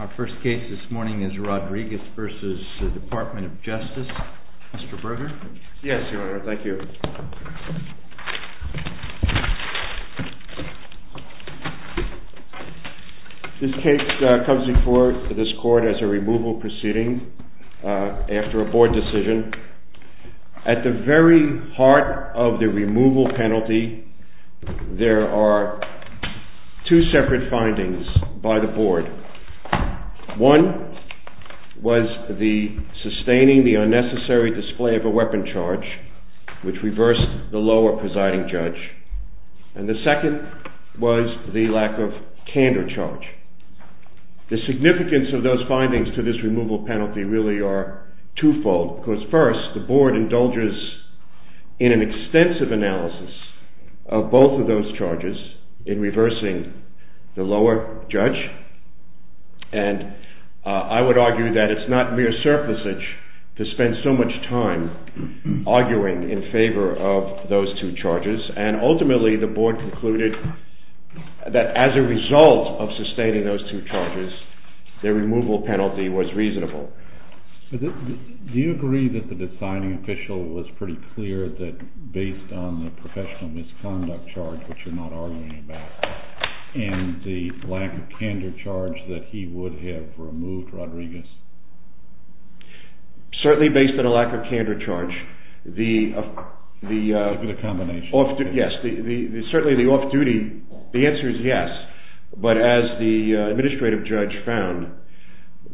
Our first case this morning is Rodriguez v. Department of Justice. Mr. Berger? Yes, Your Honor. Thank you. This case comes before this Court as a removal proceeding after a Board decision. At the very heart of the removal penalty, there are two separate findings by the Board. One was the sustaining the unnecessary display of a weapon charge, which reversed the lower presiding judge. And the second was the lack of candor charge. The significance of those findings to this removal penalty really are twofold. Because first, the Board indulges in an extensive analysis of both of those charges in reversing the lower judge. And I would argue that it's not mere surplusage to spend so much time arguing in favor of those two charges. And ultimately, the Board concluded that as a result of sustaining those two charges, the removal penalty was reasonable. Do you agree that the deciding official was pretty clear that based on the professional misconduct charge, which you're not arguing about, and the lack of candor charge, that he would have removed Rodriguez? Certainly based on a lack of candor charge. The combination. Yes, certainly the off-duty, the answer is yes. But as the administrative judge found,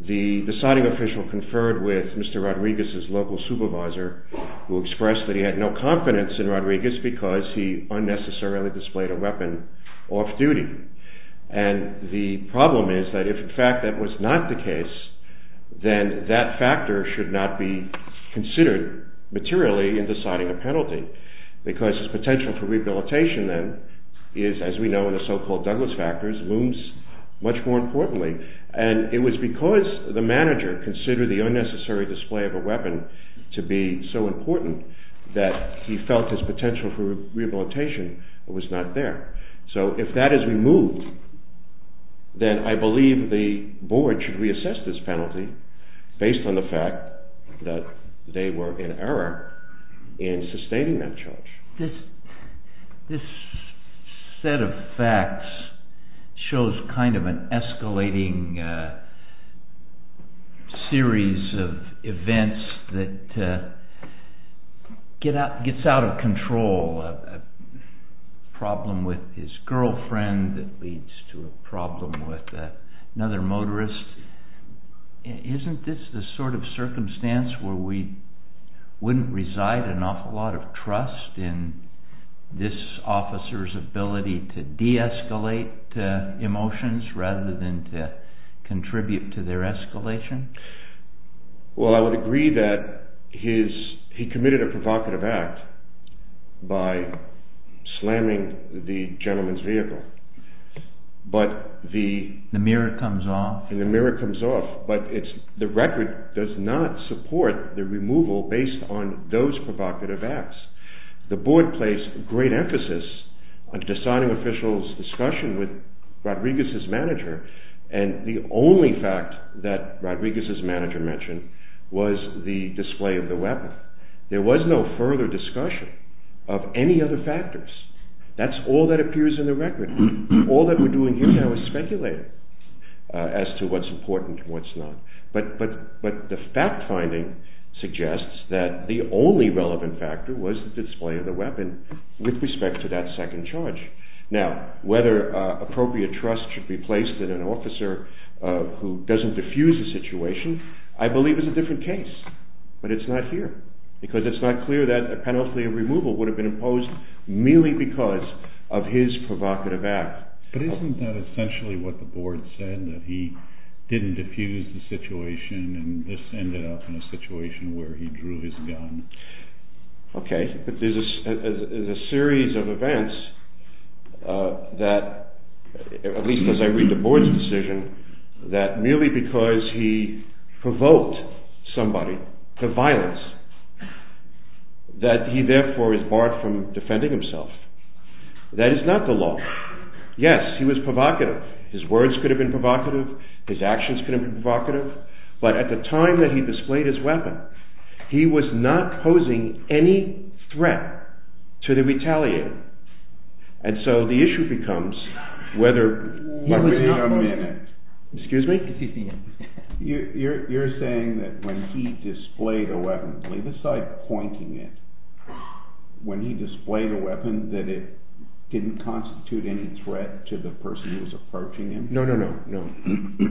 the deciding official conferred with Mr. Rodriguez's local supervisor, who expressed that he had no confidence in Rodriguez because he unnecessarily displayed a weapon off-duty. And the problem is that if in fact that was not the case, then that factor should not be considered materially in deciding a penalty. Because his potential for rehabilitation then is, as we know in the so-called Douglas factors, looms much more importantly. And it was because the manager considered the unnecessary display of a weapon to be so important that he felt his potential for rehabilitation was not there. So if that is removed, then I believe the board should reassess this penalty based on the fact that they were in error in sustaining that charge. This set of facts shows kind of an escalating series of events that gets out of control. A problem with his girlfriend that leads to a problem with another motorist. Isn't this the sort of circumstance where we wouldn't reside an awful lot of trust in this officer's ability to de-escalate emotions rather than to contribute to their escalation? Well, I would agree that he committed a provocative act by slamming the gentleman's vehicle. The mirror comes off? And the mirror comes off. But the record does not support the removal based on those provocative acts. The board placed great emphasis on deciding official's discussion with Rodriguez's manager. And the only fact that Rodriguez's manager mentioned was the display of the weapon. There was no further discussion of any other factors. That's all that appears in the record. All that we're doing here now is speculating as to what's important and what's not. But the fact finding suggests that the only relevant factor was the display of the weapon with respect to that second charge. Now, whether appropriate trust should be placed in an officer who doesn't diffuse a situation, I believe is a different case. But it's not here. Because it's not clear that a penalty of removal would have been imposed merely because of his provocative act. But isn't that essentially what the board said, that he didn't diffuse the situation and this ended up in a situation where he drew his gun? Okay. There's a series of events that, at least as I read the board's decision, that merely because he provoked somebody to violence, that he therefore is barred from defending himself. That is not the law. Yes, he was provocative. His words could have been provocative. His actions could have been provocative. But at the time that he displayed his weapon, he was not posing any threat to the retaliator. And so the issue becomes whether... Wait a minute. Excuse me? You're saying that when he displayed a weapon, leave aside pointing it, when he displayed a weapon that it didn't constitute any threat to the person who was approaching him? No, no, no.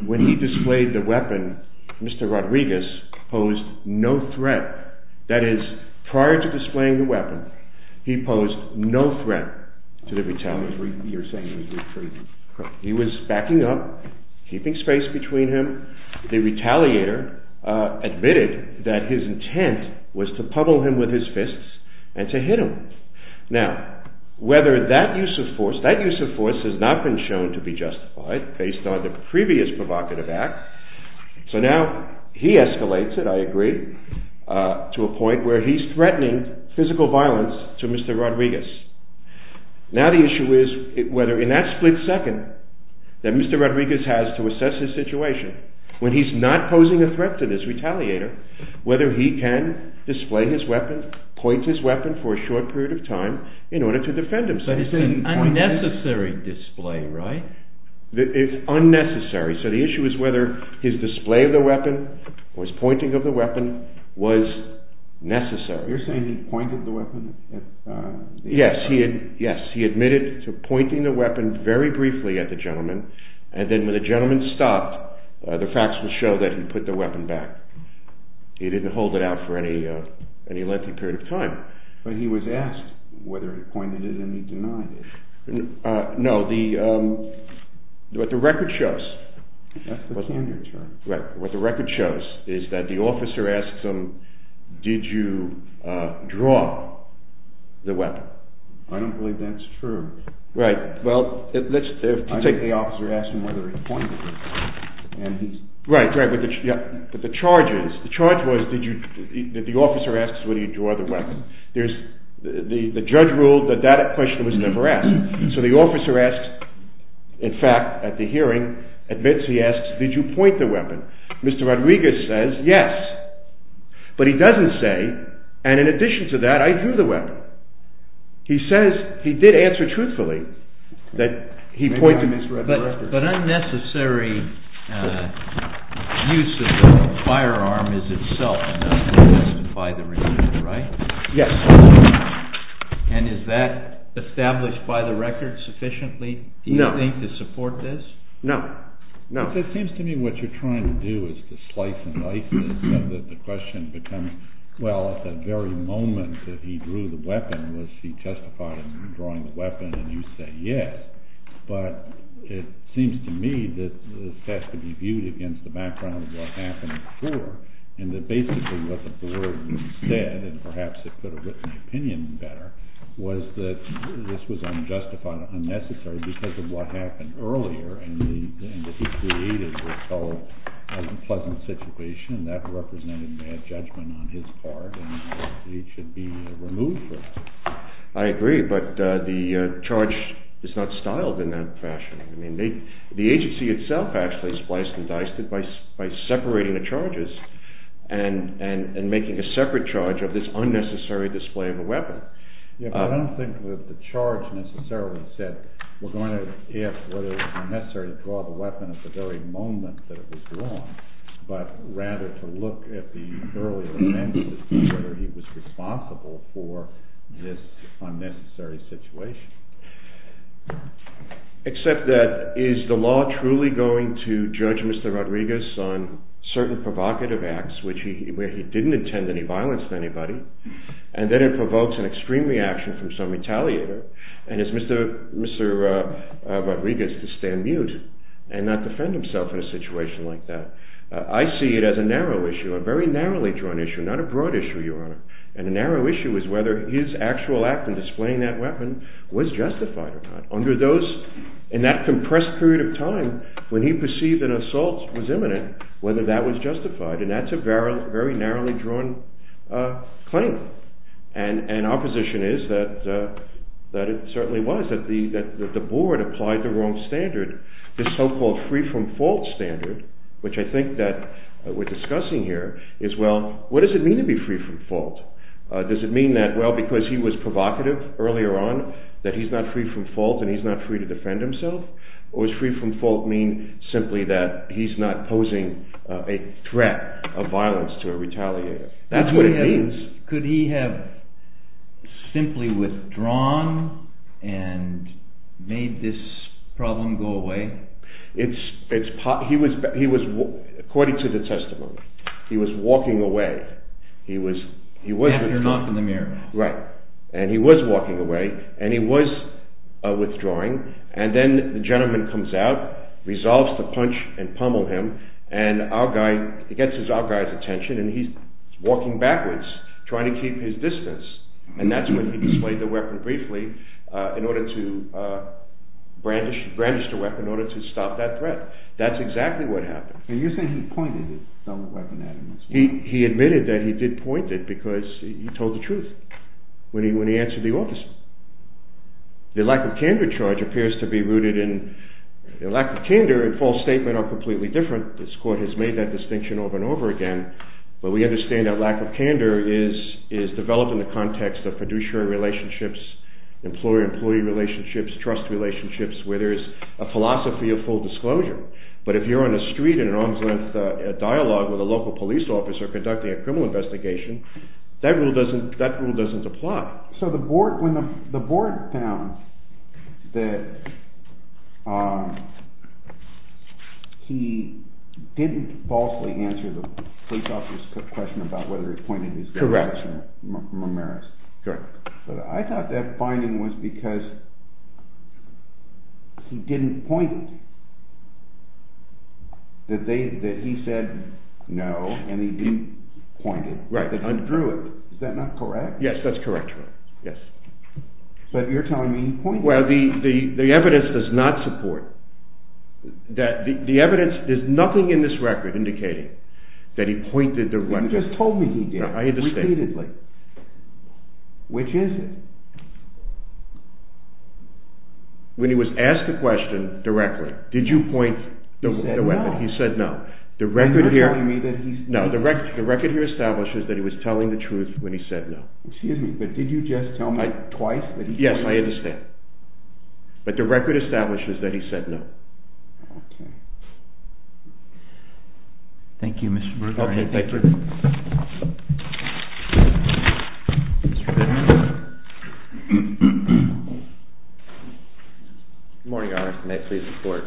When he displayed the weapon, Mr. Rodriguez posed no threat. That is, prior to displaying the weapon, he posed no threat to the retaliator. You're saying he was retreating. He was backing up, keeping space between him. The retaliator admitted that his intent was to puddle him with his fists and to hit him. Now, whether that use of force... That use of force has not been shown to be justified based on the previous provocative act. So now he escalates it, I agree, to a point where he's threatening physical violence to Mr. Rodriguez. Now the issue is whether in that split second that Mr. Rodriguez has to assess his situation, when he's not posing a threat to this retaliator, whether he can display his weapon, point his weapon for a short period of time in order to defend himself. But it's an unnecessary display, right? It's unnecessary. So the issue is whether his display of the weapon or his pointing of the weapon was necessary. You're saying he pointed the weapon at the... Yes, he admitted to pointing the weapon very briefly at the gentleman, and then when the gentleman stopped, the facts would show that he put the weapon back. He didn't hold it out for any lengthy period of time. But he was asked whether he pointed it and he denied it. No, what the record shows... That's the cannery term. Right, what the record shows is that the officer asks him, did you draw the weapon? I don't believe that's true. Right, well, let's take... I think the officer asked him whether he pointed it. Right, but the charge is, the charge was that the officer asks whether he drew the weapon. The judge ruled that that question was never asked. So the officer asks, in fact, at the hearing, admits he asks, did you point the weapon? Mr. Rodriguez says, yes. But he doesn't say, and in addition to that, I drew the weapon. He says he did answer truthfully that he pointed his weapon. But unnecessary use of the firearm is itself enough evidence by the record, right? Yes. And is that established by the record sufficiently, do you think, to support this? No, no. It seems to me what you're trying to do is to slice and dice this so that the question becomes, well, at the very moment that he drew the weapon was he testified in drawing the weapon and you say yes. But it seems to me that this has to be viewed against the background of what happened before and that basically what the board said, and perhaps it could have written the opinion better, was that this was unjustified and unnecessary because of what happened earlier and what he created was a pleasant situation and that represented bad judgment on his part and he should be removed from it. I agree, but the charge is not styled in that fashion. The agency itself actually spliced and diced it by separating the charges and making a separate charge of this unnecessary display of a weapon. Yes, but I don't think that the charge necessarily said, we're going to ask whether it was unnecessary to draw the weapon at the very moment that it was drawn, but rather to look at the earlier mention of whether he was responsible for this unnecessary situation. Except that, is the law truly going to judge Mr. Rodriguez on certain provocative acts where he didn't intend any violence to anybody and then it provokes an extreme reaction from some retaliator and it's Mr. Rodriguez to stand mute and not defend himself in a situation like that. I see it as a narrow issue, a very narrowly drawn issue, not a broad issue, Your Honor, and the narrow issue is whether his actual act in displaying that weapon was justified or not. In that compressed period of time when he perceived an assault was imminent, whether that was justified and that's a very narrowly drawn claim and our position is that it certainly was, that the board applied the wrong standard. This so-called free from fault standard, which I think that we're discussing here, is well, what does it mean to be free from fault? Does it mean that, well, because he was provocative earlier on, that he's not free from fault and he's not free to defend himself? Or does free from fault mean simply that he's not posing a threat of violence to a retaliator? That's what it means. Could he have simply withdrawn and made this problem go away? He was, according to the testimony, he was walking away. After a knock on the mirror. Right, and he was walking away and he was withdrawing and then the gentleman comes out, resolves to punch and pummel him and our guy, he gets our guy's attention and he's walking backwards trying to keep his distance and that's when he displayed the weapon briefly in order to brandish the weapon, in order to stop that threat. That's exactly what happened. And you're saying he pointed the weapon at him? He admitted that he did point it because he told the truth when he answered the officer. The lack of candor charge appears to be rooted in, lack of candor and false statement are completely different. This court has made that distinction over and over again, but we understand that lack of candor is developed in the context of fiduciary relationships, employer-employee relationships, trust relationships, where there is a philosophy of full disclosure. But if you're on a street in an arm's length dialogue with a local police officer conducting a criminal investigation, that rule doesn't apply. So the board, when the board found that he didn't falsely answer the police officer's question about whether he pointed his gun at Mr. Mamaris. Correct. But I thought that finding was because he didn't point it, that he said no and he didn't point it, that he drew it. Is that not correct? Yes, that's correct. So you're telling me he pointed it. Well, the evidence does not support, the evidence, there's nothing in this record indicating that he pointed the weapon. You just told me he did, repeatedly. I understand. Which is it? When he was asked the question directly, did you point the weapon? He said no. No, the record here establishes that he was telling the truth when he said no. Excuse me, but did you just tell me twice that he pointed it? Yes, I understand. But the record establishes that he said no. Okay. Thank you, Mr. Berger. Okay, thank you. Good morning, Your Honor. May I please report?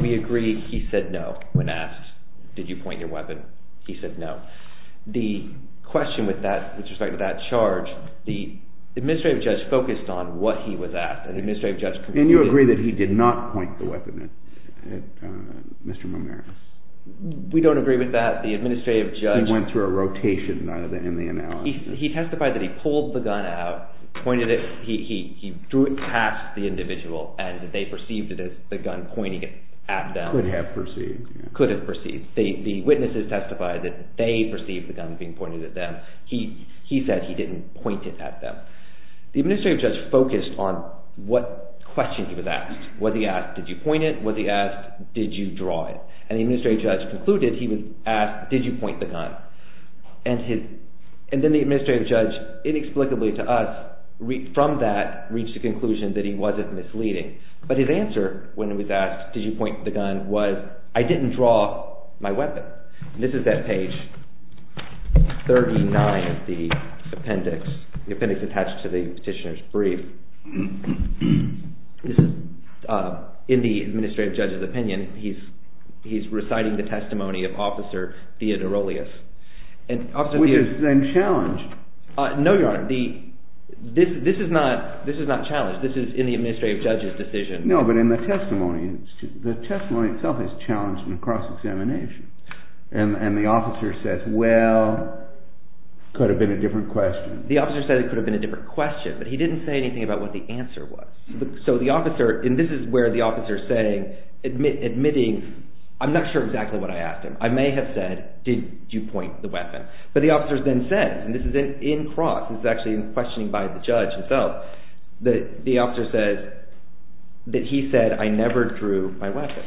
We agree he said no when asked, did you point your weapon? He said no. The question with that, with respect to that charge, the administrative judge focused on what he was at. And you agree that he did not point the weapon at Mr. Momera? We don't agree with that. He went through a rotation in the analysis. He testified that he pulled the gun out, pointed it, he drew it past the individual, and they perceived it as the gun pointing at them. Could have perceived. Could have perceived. The witnesses testified that they perceived the gun being pointed at them. He said he didn't point it at them. The administrative judge focused on what question he was asked. Was he asked, did you point it? Was he asked, did you draw it? And the administrative judge concluded he was asked, did you point the gun? And then the administrative judge, inexplicably to us, from that reached a conclusion that he wasn't misleading. But his answer when he was asked, did you point the gun, was I didn't draw my weapon. This is at page 39 of the appendix. The appendix attached to the petitioner's brief. This is in the administrative judge's opinion. He's reciting the testimony of Officer Theodorolios. Which is then challenged. No, Your Honor. This is not challenged. This is in the administrative judge's decision. No, but in the testimony. The testimony itself is challenged in the cross-examination. And the officer says, well, could have been a different question. The officer said it could have been a different question, but he didn't say anything about what the answer was. So the officer, and this is where the officer is saying, admitting, I'm not sure exactly what I asked him. I may have said, did you point the weapon? But the officer then said, and this is in cross, this is actually in questioning by the judge himself, that the officer said, that he said, I never drew my weapon.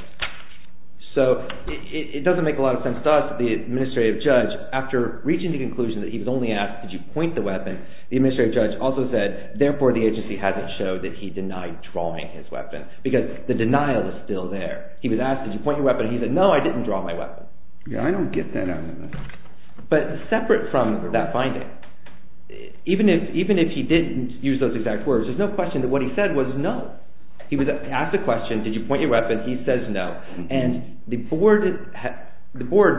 So it doesn't make a lot of sense to us. The administrative judge, after reaching the conclusion that he was only asked, did you point the weapon, the administrative judge also said, therefore the agency hasn't showed that he denied drawing his weapon, because the denial is still there. He was asked, did you point your weapon, and he said, no, I didn't draw my weapon. Yeah, I don't get that out of this. But separate from that finding, even if he didn't use those exact words, there's no question that what he said was no. He was asked a question, did you point your weapon, he says no. And the board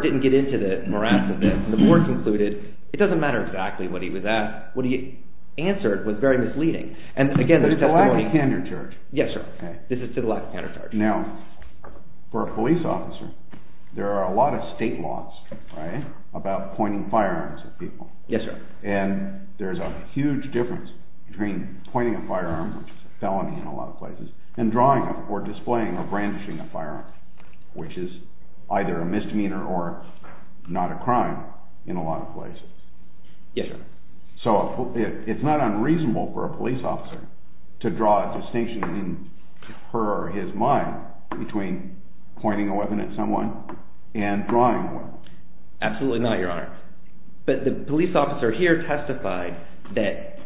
didn't get into the morass of this, and the board concluded, it doesn't matter exactly what he was asked. What he answered was very misleading. But it's to the lack of candor, George. Yes, sir. This is to the lack of candor, George. Now, for a police officer, there are a lot of state laws, right, about pointing firearms at people. Yes, sir. And there's a huge difference between pointing a firearm, which is a felony in a lot of places, and drawing or displaying or brandishing a firearm, which is either a misdemeanor or not a crime in a lot of places. Yes, sir. So it's not unreasonable for a police officer to draw a distinction in her or his mind between pointing a weapon at someone and drawing one. Absolutely not, Your Honor. But the police officer here testified that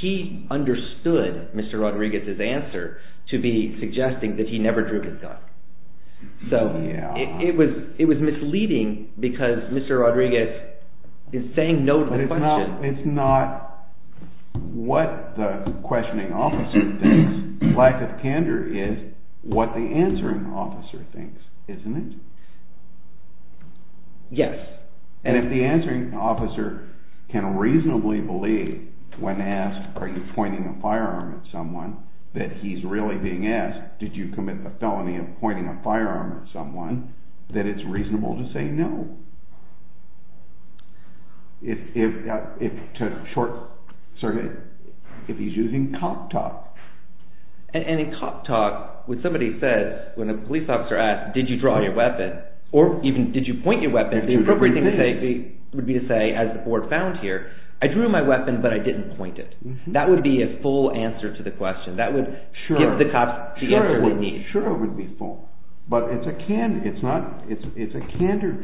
he understood Mr. Rodriguez's answer to be suggesting that he never drew his gun. So it was misleading because Mr. Rodriguez is saying no to the question. It's not what the questioning officer thinks. Lack of candor is what the answering officer thinks, isn't it? Yes. And if the answering officer can reasonably believe when asked, are you pointing a firearm at someone, that he's really being asked, did you commit the felony of pointing a firearm at someone, that it's reasonable to say no. If he's using cop talk. And in cop talk, when somebody says, when a police officer asks, did you draw your weapon, or even did you point your weapon, the appropriate thing to say would be to say, as the board found here, I drew my weapon, but I didn't point it. That would be a full answer to the question. That would give the cop the answer he needs. Sure, it would be full. But it's a candor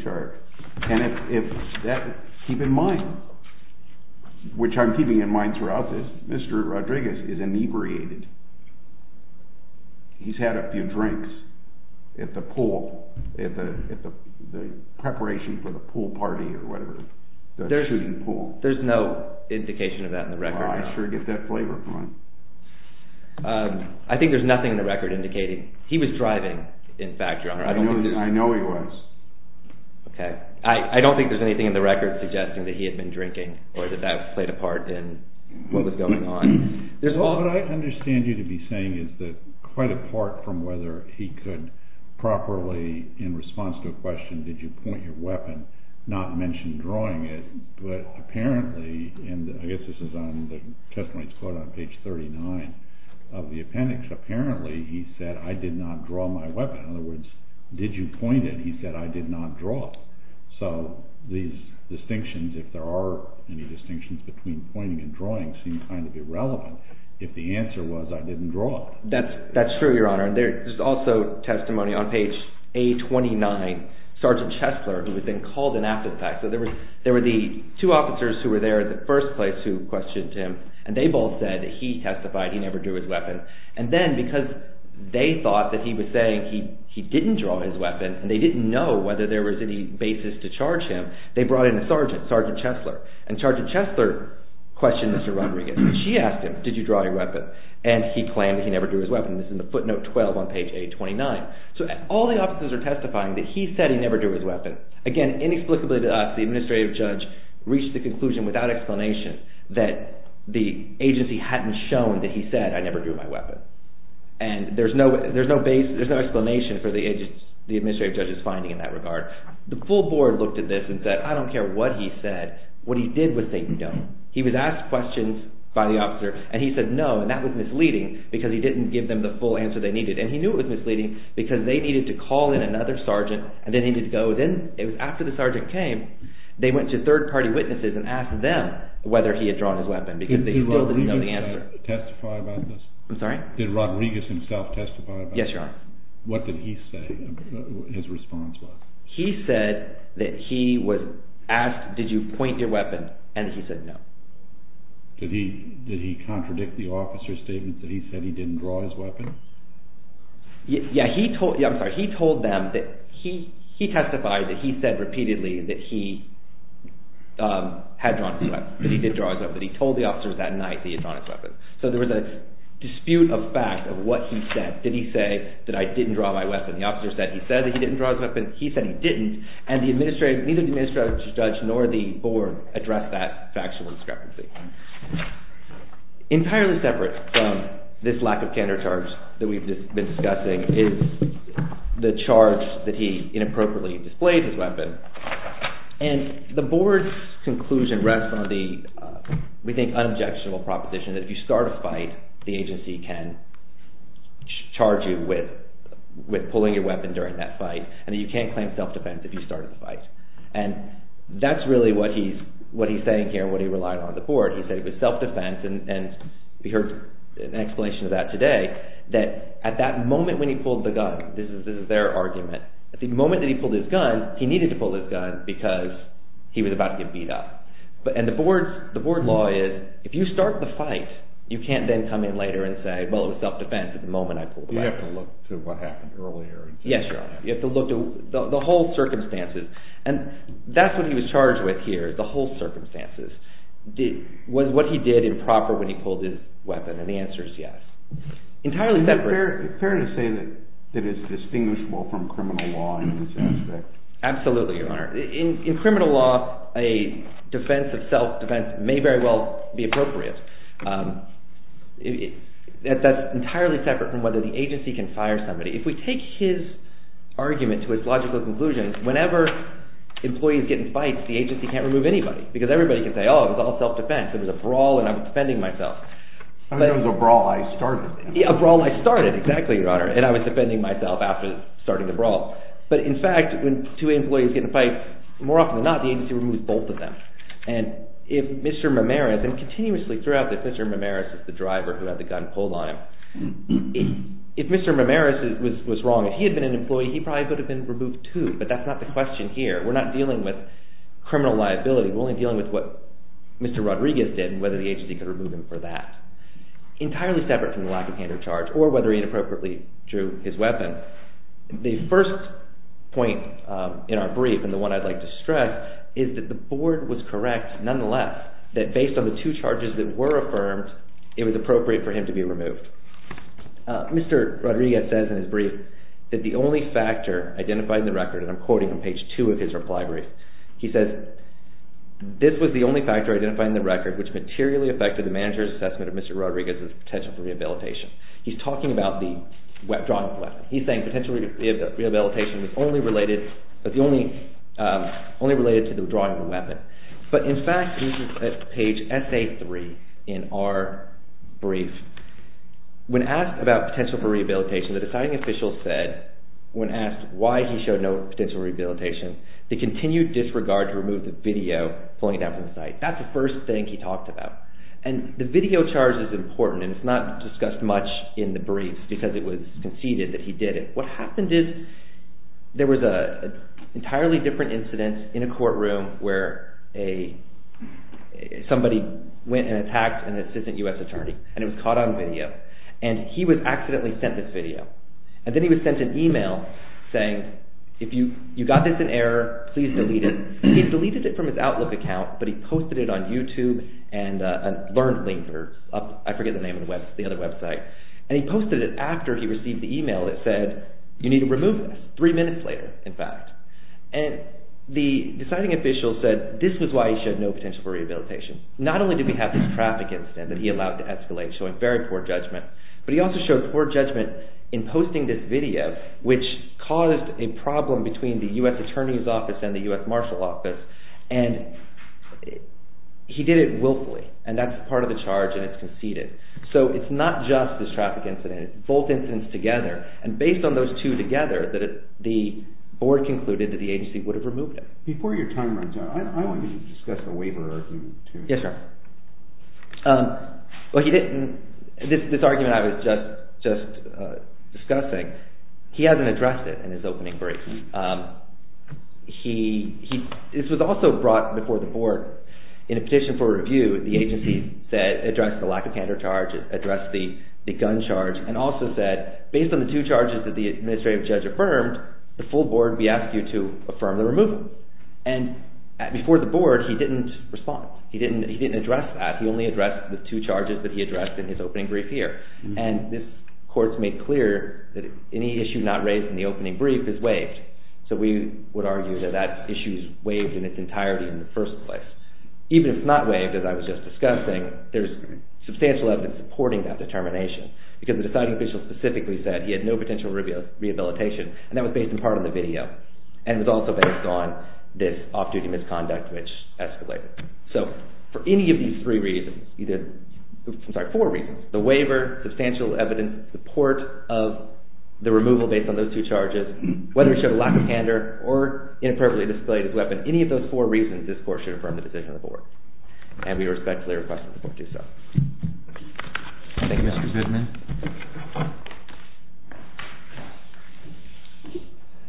chart. And if that, keep in mind, which I'm keeping in mind throughout this, Mr. Rodriguez is inebriated. He's had a few drinks at the pool, at the preparation for the pool party or whatever, the shooting pool. There's no indication of that in the record. I sure get that flavor from him. I think there's nothing in the record indicating. He was driving, in fact, Your Honor. I know he was. Okay. I don't think there's anything in the record suggesting that he had been drinking or that that played a part in what was going on. What I understand you to be saying is that, quite apart from whether he could properly, in response to a question, did you point your weapon, not mention drawing it, but apparently, and I guess this is on the testimony that's quoted on page 39 of the appendix, apparently he said, I did not draw my weapon. In other words, did you point it? He said, I did not draw it. So these distinctions, if there are any distinctions between pointing and drawing, seem kind of irrelevant. If the answer was, I didn't draw it. That's true, Your Honor. There's also testimony on page A29, Sergeant Chesler, who was then called in after the fact. So there were the two officers who were there in the first place who questioned him, and they both said that he testified. He never drew his weapon. And then, because they thought that he was saying he didn't draw his weapon, and they didn't know whether there was any basis to charge him, they brought in a sergeant, Sergeant Chesler. And Sergeant Chesler questioned Mr. Rodriguez. She asked him, did you draw your weapon? And he claimed he never drew his weapon. This is in the footnote 12 on page A29. So all the officers are testifying that he said he never drew his weapon. Again, inexplicably to us, the administrative judge reached the conclusion without explanation that the agency hadn't shown that he said, I never drew my weapon. And there's no explanation for the administrative judge's finding in that regard. The full board looked at this and said, I don't care what he said. What he did was say, no. He was asked questions by the officer, and he said no, and that was misleading because he didn't give them the full answer they needed. And he knew it was misleading because they needed to call in another sergeant, and they needed to go. Then, after the sergeant came, they went to third-party witnesses and asked them whether he had drawn his weapon because they still didn't know the answer. Did Rodriguez testify about this? I'm sorry? Did Rodriguez himself testify about this? Yes, Your Honor. What did he say his response was? He said that he was asked, did you point your weapon? And he said no. Did he contradict the officer's statement that he said he didn't draw his weapon? Yeah, he told them that he testified that he said repeatedly that he had drawn his weapon, that he did draw his weapon, that he told the officers that night that he had drawn his weapon. So there was a dispute of fact of what he said. Did he say that I didn't draw my weapon? The officer said he said that he didn't draw his weapon. He said he didn't, and neither the administrative judge nor the board addressed that factual discrepancy. Entirely separate from this lack of candor charge that we've been discussing is the charge that he inappropriately displayed his weapon. And the board's conclusion rests on the, we think, unobjectionable proposition that if you start a fight, the agency can charge you with pulling your weapon during that fight, and that you can't claim self-defense if you start a fight. And that's really what he's saying here and what he relied on on the board. He said it was self-defense, and we heard an explanation of that today, that at that moment when he pulled the gun, this is their argument, at the moment that he pulled his gun, he needed to pull his gun because he was about to get beat up. And the board law is, if you start the fight, you can't then come in later and say, well, it was self-defense at the moment I pulled the weapon. You have to look to what happened earlier. Yes, Your Honor. You have to look to the whole circumstances. And that's what he was charged with here, the whole circumstances. Was what he did improper when he pulled his weapon? And the answer is yes. Entirely separate. Is it fair to say that it is distinguishable from criminal law in this aspect? Absolutely, Your Honor. In criminal law, a defense of self-defense may very well be appropriate. That's entirely separate from whether the agency can fire somebody. If we take his argument to its logical conclusion, whenever employees get in fights, the agency can't remove anybody because everybody can say, oh, it was all self-defense. It was a brawl and I'm defending myself. I mean, it was a brawl I started. A brawl I started. Exactly, Your Honor. And I was defending myself after starting the brawl. But in fact, when two employees get in a fight, more often than not, the agency removes both of them. And if Mr. Mamaris, and continuously throughout this, Mr. Mamaris is the driver who had the gun pulled on him. If Mr. Mamaris was wrong, if he had been an employee, he probably would have been removed too. But that's not the question here. We're not dealing with criminal liability. We're only dealing with what Mr. Rodriguez did and whether the agency could remove him for that. Entirely separate from the lack of hand or charge or whether he inappropriately drew his weapon. The first point in our brief, and the one I'd like to stress, is that the board was correct nonetheless that based on the two charges that were affirmed, it was appropriate for him to be removed. Mr. Rodriguez says in his brief that the only factor identified in the record, and I'm quoting from page two of his reply brief, he says, this was the only factor identified in the record which materially affected the manager's assessment of Mr. Rodriguez's potential for rehabilitation. He's talking about the drawing of the weapon. He's saying potential rehabilitation was only related to the drawing of the weapon. But in fact, this is page SA3 in our brief, when asked about potential for rehabilitation, the deciding official said, when asked why he showed no potential for rehabilitation, the continued disregard to remove the video flowing down from the site. That's the first thing he talked about. And the video charge is important and it's not discussed much in the brief because it was conceded that he did it. What happened is there was an entirely different incident in a courtroom where somebody went and attacked an assistant U.S. attorney and it was caught on video. And he was accidentally sent this video. And then he was sent an email saying, if you got this in error, please delete it. He deleted it from his Outlook account but he posted it on YouTube and LearnLink or I forget the name of the other website. And he posted it after he received the email that said, you need to remove this. Three minutes later, in fact. And the deciding official said this was why he showed no potential for rehabilitation. Not only did we have this traffic incident that he allowed to escalate showing very poor judgment, but he also showed poor judgment in posting this video which caused a problem between the U.S. Attorney's Office and the U.S. Marshal Office. And he did it willfully. And that's part of the charge and it's conceded. So it's not just this traffic incident. It's both incidents together. And based on those two together, the board concluded that the agency would have removed it. Before your time runs out, I want you to discuss the waiver argument too. Yes, sir. Well, he didn't. This argument I was just discussing, he hasn't addressed it in his opening break. This was also brought before the board in a petition for review. The agency said, addressed the lack of counter charges, addressed the gun charge, and also said, based on the two charges that the administrative judge affirmed, the full board would be asked to affirm the removal. And before the board, he didn't respond. He didn't address that. He only addressed the two charges that he addressed in his opening brief here. And this court made clear that any issue not raised in the opening brief is waived. So we would argue that that issue is waived in its entirety in the first place. Even if it's not waived, as I was just discussing, there's substantial evidence supporting that determination. Because the deciding official specifically said he had no potential rehabilitation. And that was based in part on the video. And it was also based on this off-duty misconduct, which escalated. So for any of these three reasons, I'm sorry, four reasons, the waiver, substantial evidence, support of the removal based on those two charges, whether he showed a lack of candor or inappropriately displayed his weapon, any of those four reasons, this court should affirm the decision of the board. And we respectfully request that the board do so. Thank you, Mr. Bidman.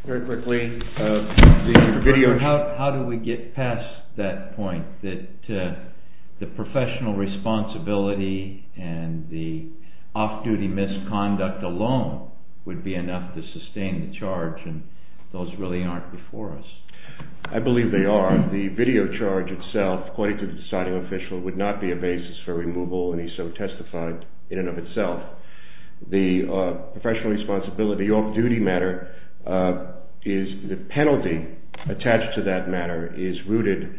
Very quickly, the video. How do we get past that point that the professional responsibility and the off-duty misconduct alone would be enough to sustain the charge and those really aren't before us? I believe they are. The video charge itself, according to the deciding official, would not be a basis for removal when he so testified in and of itself. The professional responsibility, the off-duty matter, is the penalty attached to that matter is rooted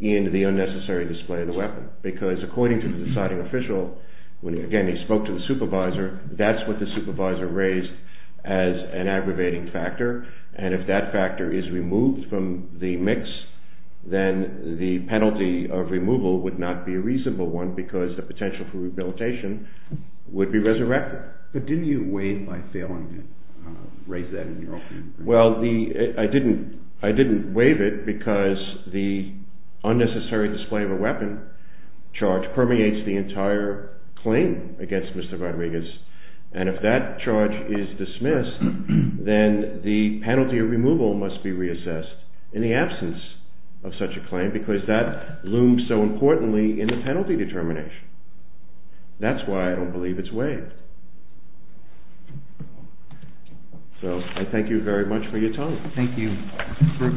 in the unnecessary display of the weapon. Because according to the deciding official, again, he spoke to the supervisor, that's what the supervisor raised as an aggravating factor. And if that factor is removed from the mix, then the penalty of removal would not be a reasonable one because the potential for rehabilitation would be resurrected. But didn't you waive by failing to raise that? Well, I didn't waive it because the unnecessary display of a weapon charge permeates the entire claim against Mr. Rodriguez. And if that charge is dismissed, then the penalty of removal must be reassessed in the absence of such a claim because that looms so importantly in the penalty determination. That's why I don't believe it's waived. So, I thank you very much for your time. Thank you.